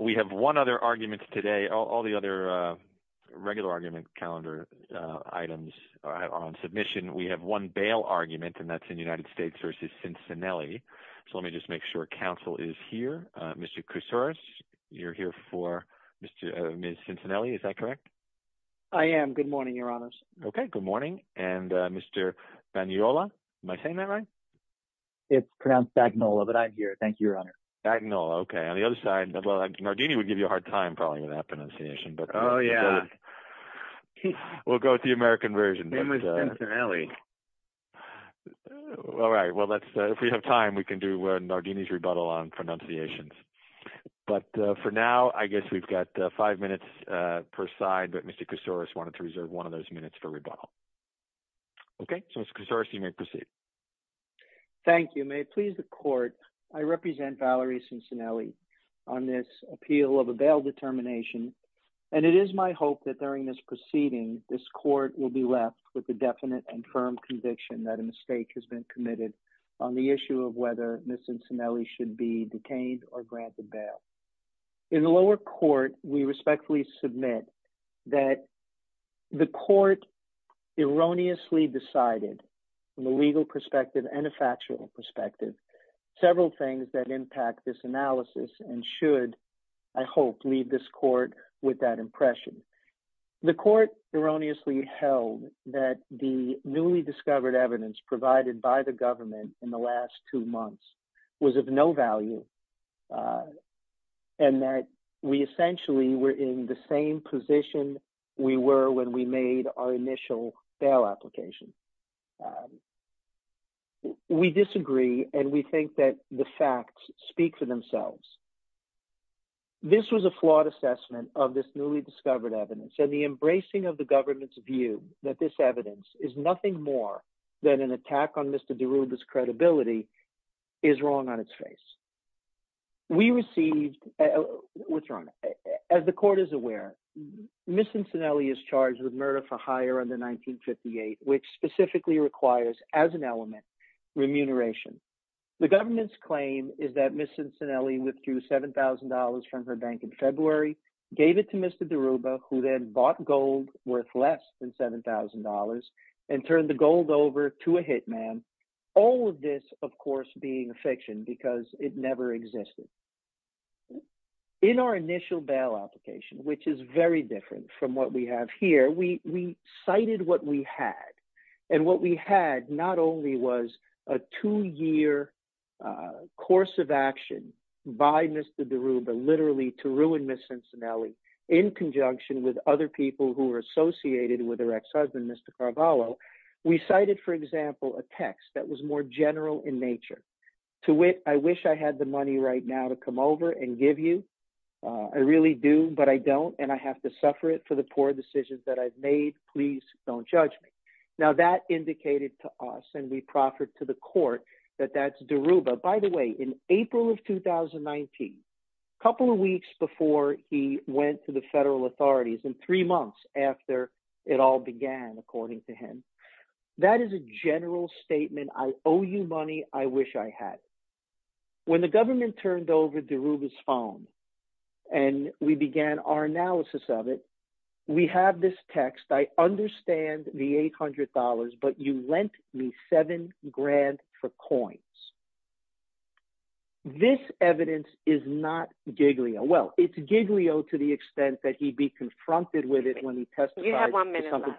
We have one other argument today. All the other regular argument calendar items are on submission. We have one bail argument, and that's in United States v. Cincinelli. So let me just make sure counsel is here. Mr. Koussouris, you're here for Ms. Cincinelli, is that correct? I am. Good morning, your honors. Okay. Good morning. And Mr. Bagnola, am I saying that right? It's pronounced Bagnola, but I'm here. Thank you, your honor. Bagnola. Okay. On the other side, Nardini would give you a hard time, probably, with that pronunciation. But we'll go with the American version. Same with Cincinelli. All right. Well, if we have time, we can do Nardini's rebuttal on pronunciations. But for now, I guess we've got five minutes per side. But Mr. Koussouris wanted to reserve one of those minutes for rebuttal. Okay. So, Mr. Koussouris, you may proceed. Thank you. May it please the court, I represent Valerie Cincinelli. On this appeal of a bail determination, and it is my hope that during this proceeding, this court will be left with a definite and firm conviction that a mistake has been committed on the issue of whether Ms. Cincinelli should be detained or granted bail. In the lower court, we respectfully submit that the court erroneously decided, from a legal perspective and a factual perspective, several things that impact this analysis and should, I hope, leave this court with that impression. The court erroneously held that the newly discovered evidence provided by the government in the last two months was of no value and that we essentially were in the same position we were when we made our initial bail application. We disagree, and we think that the facts speak for themselves. This was a flawed assessment of this newly discovered evidence, and the embracing of the government's view that this evidence is nothing more than an attack on Mr. DeRuba's credibility is wrong on its face. We received, what's wrong, as the court is aware, Ms. Cincinelli is charged with murder for hire under 1958, which specifically requires, as an element, remuneration. The government's claim is that Ms. Cincinelli withdrew $7,000 from her bank in February, gave it to Mr. DeRuba, who then bought gold worth less than $7,000, and turned the gold over to a hitman, all of this, of course, being a fiction because it never existed. In our initial bail application, which is very different from what we have here, we cited what we had, and what we had not only was a two-year course of action by Mr. DeRuba, literally, to ruin Ms. Cincinelli in conjunction with other people who were associated with her ex-husband, Mr. Carvalho, we cited, for example, a text that was more general in nature, to which I wish I had the money right now to come over and give you, I really do, but I don't, and I have to suffer it for the poor decisions that I've made, please don't judge me. Now, that indicated to us, and we proffered to the court, that that's DeRuba. By the way, in April of 2019, a couple of weeks before he went to the federal authorities, and three months after it all began, according to him, that is a general statement, I owe you money, I wish I had it. When the government turned over DeRuba's phone, and we began our analysis of it, we have this text, I understand the $800, but you lent me seven grand for coins. This evidence is not Giglio, well, it's Giglio to the extent that he'd be confronted with it when he testified to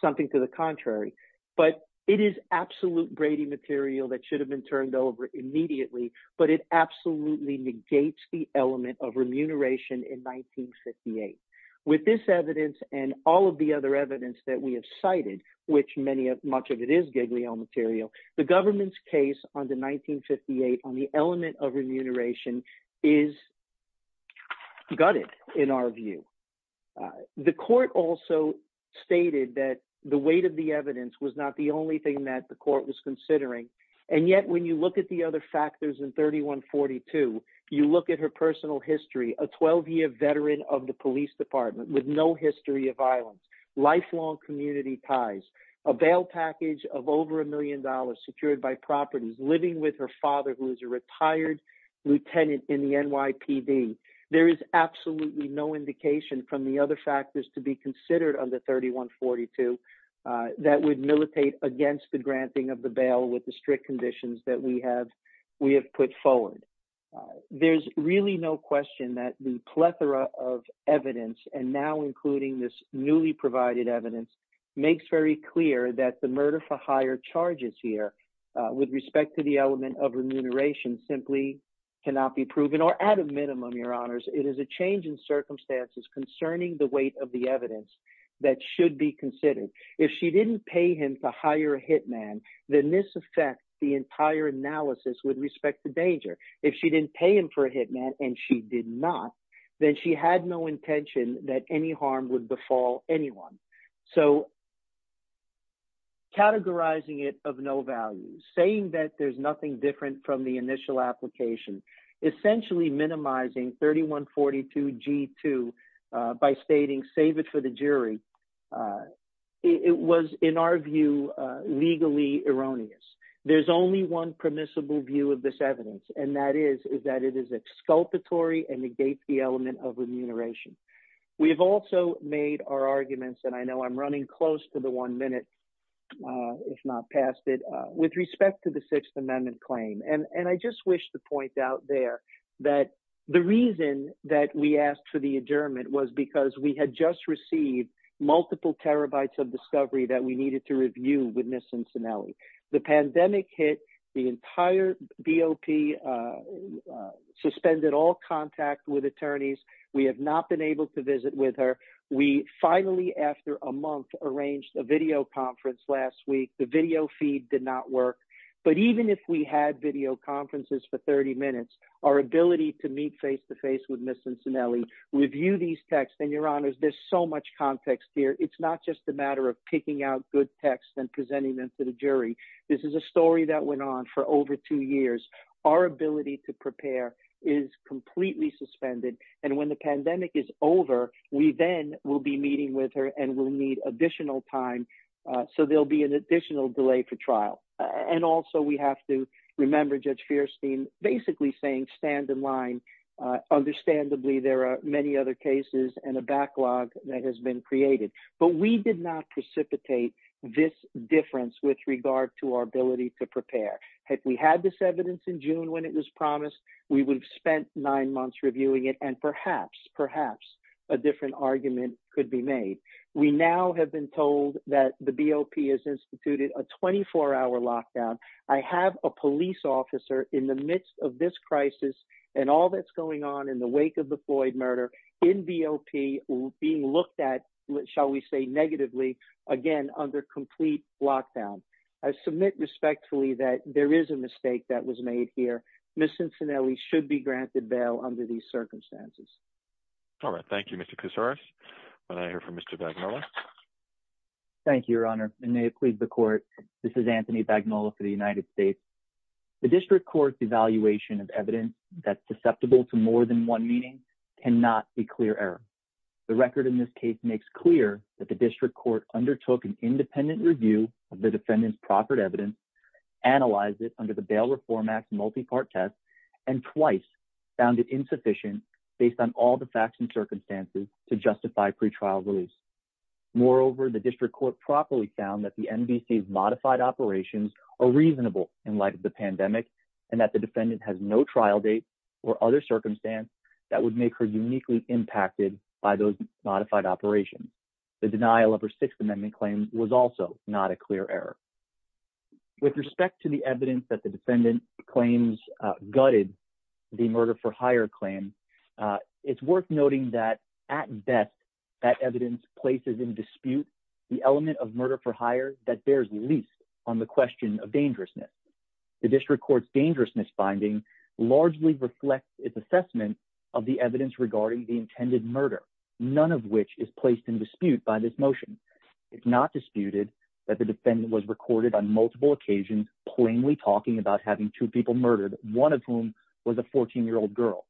something to the contrary, but it is absolute Brady material that should have been turned over immediately, but it absolutely negates the element of remuneration in 1958. With this evidence, and all of the other evidence that we have cited, which many, much of it is Giglio material, the government's case on the 1958, on the element of remuneration is gutted, in our view. The court also stated that the weight of the evidence was not the only thing that the court was considering, and yet, when you look at the other factors in 3142, you look at her personal history, a 12-year veteran of the police department with no history of violence, lifelong community ties, a bail package of over $1 million secured by properties, living with her father, who is a retired lieutenant in the NYPD. There is absolutely no indication from the other factors to be considered under 3142 that would militate against the granting of the bail with the strict conditions that we have put forward. There's really no question that the plethora of evidence, and now including this newly provided evidence, makes very clear that the murder for hire charges here with respect to the element of remuneration simply cannot be proven, or at a minimum, your honors, it is a change in circumstances concerning the weight of the evidence that should be considered. If she didn't pay him to hire a hitman, then this affects the entire analysis with respect to danger. If she didn't pay him for a hitman, and she did not, then she had no intention that any harm would befall anyone. So categorizing it of no value, saying that there's nothing different from the initial application, essentially minimizing 3142 G2 by stating, save it for the jury, it was, in our view, legally erroneous. There's only one permissible view of this evidence, and that is, is that it is exculpatory and negates the element of remuneration. We have also made our arguments, and I know I'm running close to the one minute, if not past it, with respect to the Sixth Amendment claim. And I just wish to point out there that the reason that we asked for the adjournment was because we had just received multiple terabytes of discovery that we needed to review with Ms. Cincinnati. The pandemic hit, the entire BOP suspended all contact with attorneys. We have not been able to visit with her. We finally, after a month, arranged a video conference last week. The video feed did not work. But even if we had video conferences for 30 minutes, our ability to meet face-to-face with Ms. Cincinnati, review these texts, and your honors, there's so much context here. It's not just a matter of picking out good texts and presenting them to the jury. This is a story that went on for over two years. Our ability to prepare is completely suspended. And when the pandemic is over, we then will be meeting with her and will need additional time. So there'll be an additional delay for trial. And also, we have to remember Judge Feierstein basically saying, stand in line. Understandably, there are many other cases and a backlog that has been created. But we did not precipitate this difference with regard to our ability to prepare. Had we had this evidence in June when it was promised, we would have spent nine months reviewing it. And perhaps, perhaps, a different argument could be made. We now have been told that the BOP has instituted a 24-hour lockdown. I have a police officer in the midst of this crisis and all that's going on in the wake of the Floyd murder in BOP being looked at, shall we say, negatively, again, under complete lockdown. I submit respectfully that there is a mistake that was made here. Miss Cincinnelli should be granted bail under these circumstances. All right. Thank you, Mr. Casares. And I hear from Mr. Bagnolo. Thank you, Your Honor. And may it please the Court, this is Anthony Bagnolo for the United States. The District Court's evaluation of evidence that's susceptible to more than one meaning cannot be clear error. The record in this case makes clear that the District Court undertook an independent review of the defendant's proper evidence, analyzed it under the Bail Reform Act multi-part test, and twice found it insufficient based on all the facts and circumstances to justify pretrial release. Moreover, the District Court properly found that the NVC's modified operations are reasonable in light of the pandemic, and that the defendant has no trial date or other circumstance that would make her uniquely impacted by those modified operations. The denial of her Sixth Amendment claims was also not a clear error. With respect to the evidence that the defendant claims gutted the murder for hire claim, it's worth noting that at best, that evidence places in dispute the element of murder for hire that bears least on the question of dangerousness. The District Court's dangerousness finding largely reflects its assessment of the evidence regarding the intended murder, none of which is placed in dispute by this motion. It's not disputed that the defendant was recorded on multiple occasions plainly talking about having two people murdered, one of whom was a 14-year-old girl.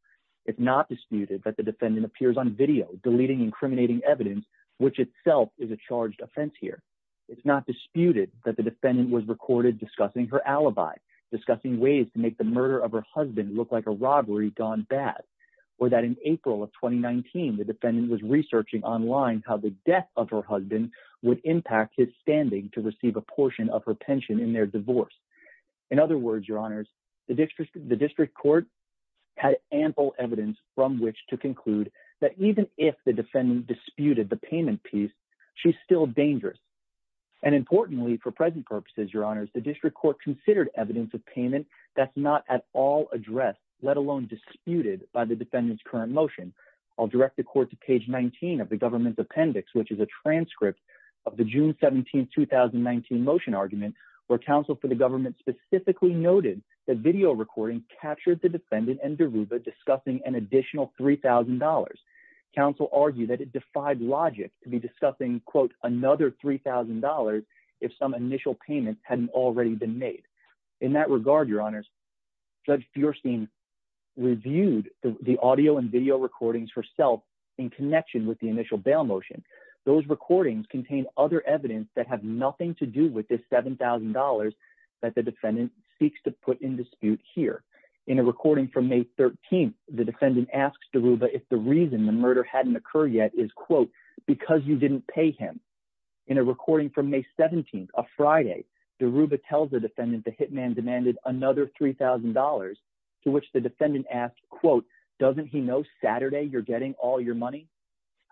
It's not disputed that the defendant appears on video deleting incriminating evidence, which itself is a charged offense here. It's not disputed that the defendant was recorded discussing her alibi, discussing ways to make the murder of her husband look like a robbery gone bad, or that in April of 2019, the defendant was researching online how the death of her husband would impact his standing to receive a portion of her pension in their divorce. In other words, Your Honors, the District Court had ample evidence from which to conclude that even if the defendant disputed the payment piece, she's still dangerous. And importantly, for present purposes, Your Honors, the District Court considered evidence of payment that's not at all addressed, let alone disputed by the defendant's current motion. I'll direct the court to page 19 of the government's appendix, which is a transcript of the June 17, 2019 motion argument, where counsel for the government specifically noted that video recording captured the defendant and Deruva discussing an additional $3,000. Counsel argued that it defied logic to be discussing, quote, another $3,000 if some initial payment hadn't already been made. In that regard, Your Honors, Judge Feuerstein reviewed the audio and video recordings herself in connection with the initial bail motion. Those recordings contain other evidence that have nothing to do with this $7,000 that the defendant seeks to put in dispute here. In a recording from May 13, the defendant asks Deruva if the reason the murder hadn't occurred yet is, quote, because you didn't pay him. In a recording from May 17, a Friday, Deruva tells the defendant the hitman demanded another $3,000, to which the defendant asked, quote, doesn't he know Saturday you're getting all your money?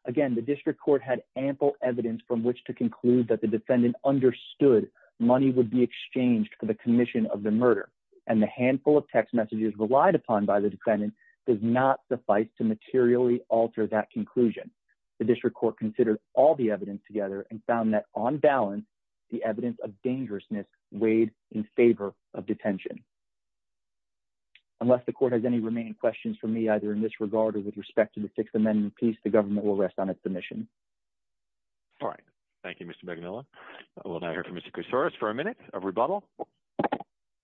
Again, the District Court had ample evidence from which to conclude that the defendant understood money would be exchanged for the commission of the murder. And the handful of text messages relied upon by the defendant does not suffice to materially alter that conclusion. The District Court considered all the evidence together and found that on balance, the evidence of dangerousness weighed in favor of detention. Unless the court has any remaining questions from me, either in this regard or with respect to the Sixth Amendment piece, the government will rest on its submission. All right. Thank you, Mr. Begumila. We'll now hear from Mr. Koussouris for a minute of rebuttal.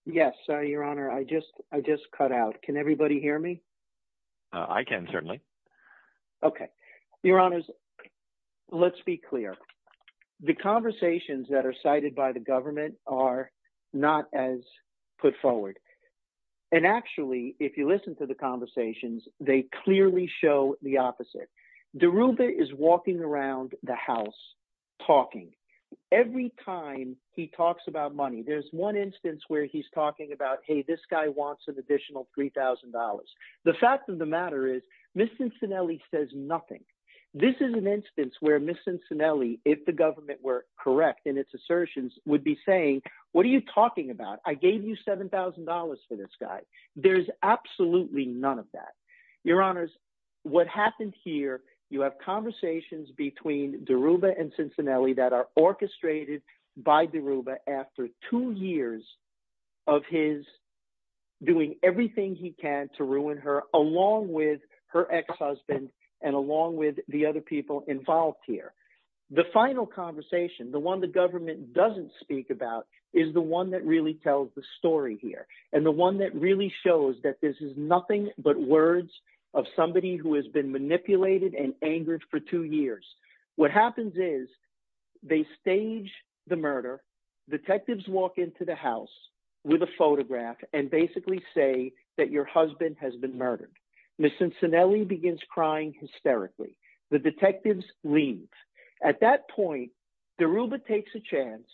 Yes, Your Honor, I just cut out. Can everybody hear me? I can, certainly. Okay. Your Honors, let's be clear. The conversations that are cited by the government are not as put forward. And actually, if you listen to the conversations, they clearly show the opposite. Deruva is walking around the house talking. Every time he talks about money, there's one instance where he's talking about, hey, this guy wants an additional $3,000. The fact of the matter is, Ms. Cincinnati says nothing. This is an instance where Ms. Cincinnati, if the government were correct in its assertions, would be saying, what are you talking about? I gave you $7,000 for this guy. There's absolutely none of that. Your Honors, what happened here, you have conversations between Deruva and Cincinnati that are orchestrated by Deruva after two years of his doing everything he can to ruin her, along with her ex-husband and along with the other people involved here. The final conversation, the one the government doesn't speak about, is the one that really tells the story here, and the one that really shows that this is nothing but words of somebody who has been manipulated and angered for two years. What happens is, they stage the murder. Detectives walk into the house with a photograph and basically say that your husband has been murdered. Ms. Cincinnati begins crying hysterically. The detectives leave. At that point, Deruva takes a chance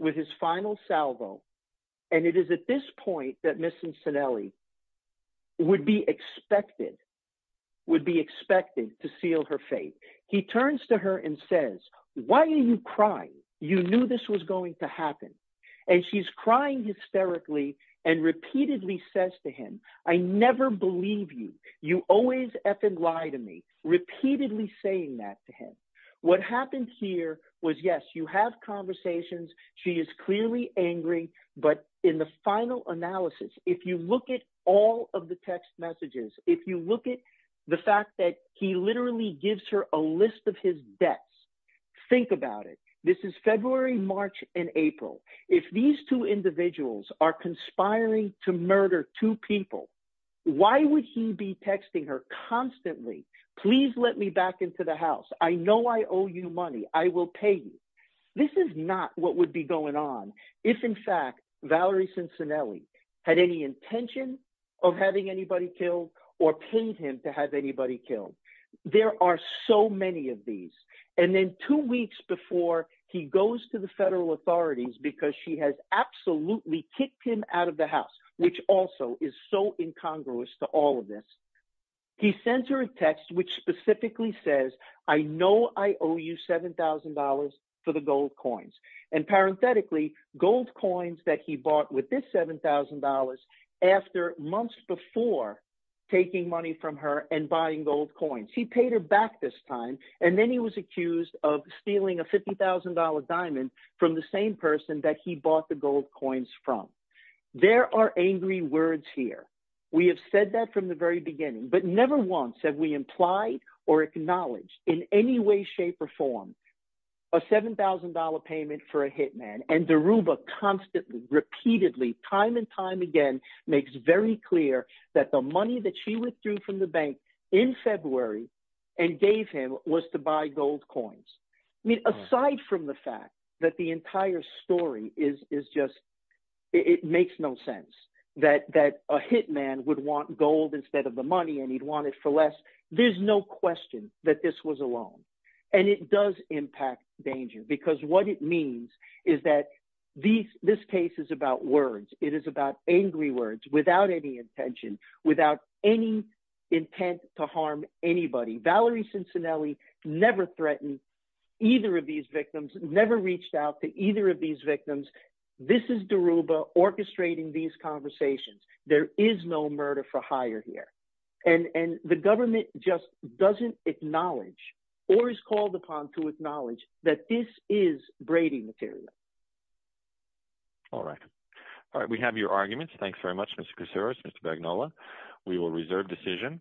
with his final salvo, and it is at this point that Ms. Cincinnati would be expected to seal her fate. He turns to her and says, why are you crying? You knew this was going to happen. And she's crying hysterically and repeatedly says to him, I never believe you. You always effing lie to me, repeatedly saying that to him. What happened here was, yes, you have conversations. She is clearly angry. But in the final analysis, if you look at all of the text messages, if you look at the fact that he literally gives her a list of his debts, think about it. This is February, March, and April. If these two individuals are conspiring to murder two people, why would he be texting her constantly, please let me back into the house. I know I owe you money. I will pay you. This is not what would be going on if, in fact, Valerie Cincinnati had any intention of having anybody killed or paid him to have anybody killed. There are so many of these. And then two weeks before he goes to the federal authorities because she has absolutely kicked him out of the house, which also is so incongruous to all of this, he sends her a text which specifically says I know I owe you $7,000 for the gold coins. And parenthetically, gold coins that he bought with this $7,000 after months before taking money from her and buying gold coins. He paid her back this time, and then he was accused of stealing a $50,000 diamond from the same person that he bought the gold coins from. There are angry words here. We have said that from the very beginning, but never once have we implied or acknowledged in any way, shape, or form a $7,000 payment for a hitman. And Daruba constantly, repeatedly, time and time again, makes very clear that the money that she withdrew from the bank in February and gave him was to buy gold coins. I mean, aside from the fact that the entire story is just, it makes no sense that a hitman would want gold instead of the money and he'd want it for less. There's no question that this was a loan, and it does impact danger because what it means is that this case is about words. It is about angry words without any intention, without any intent to harm anybody. Valerie Cincinnati never threatened either of these victims, never reached out to either of these victims. This is Daruba orchestrating these conversations. There is no murder for hire here. And the government just doesn't acknowledge or is called upon to acknowledge that this is braiding material. All right. All right. We have your arguments. Thanks very much, Mr. Kuceras, Mr. Bagnola. We will reserve decision.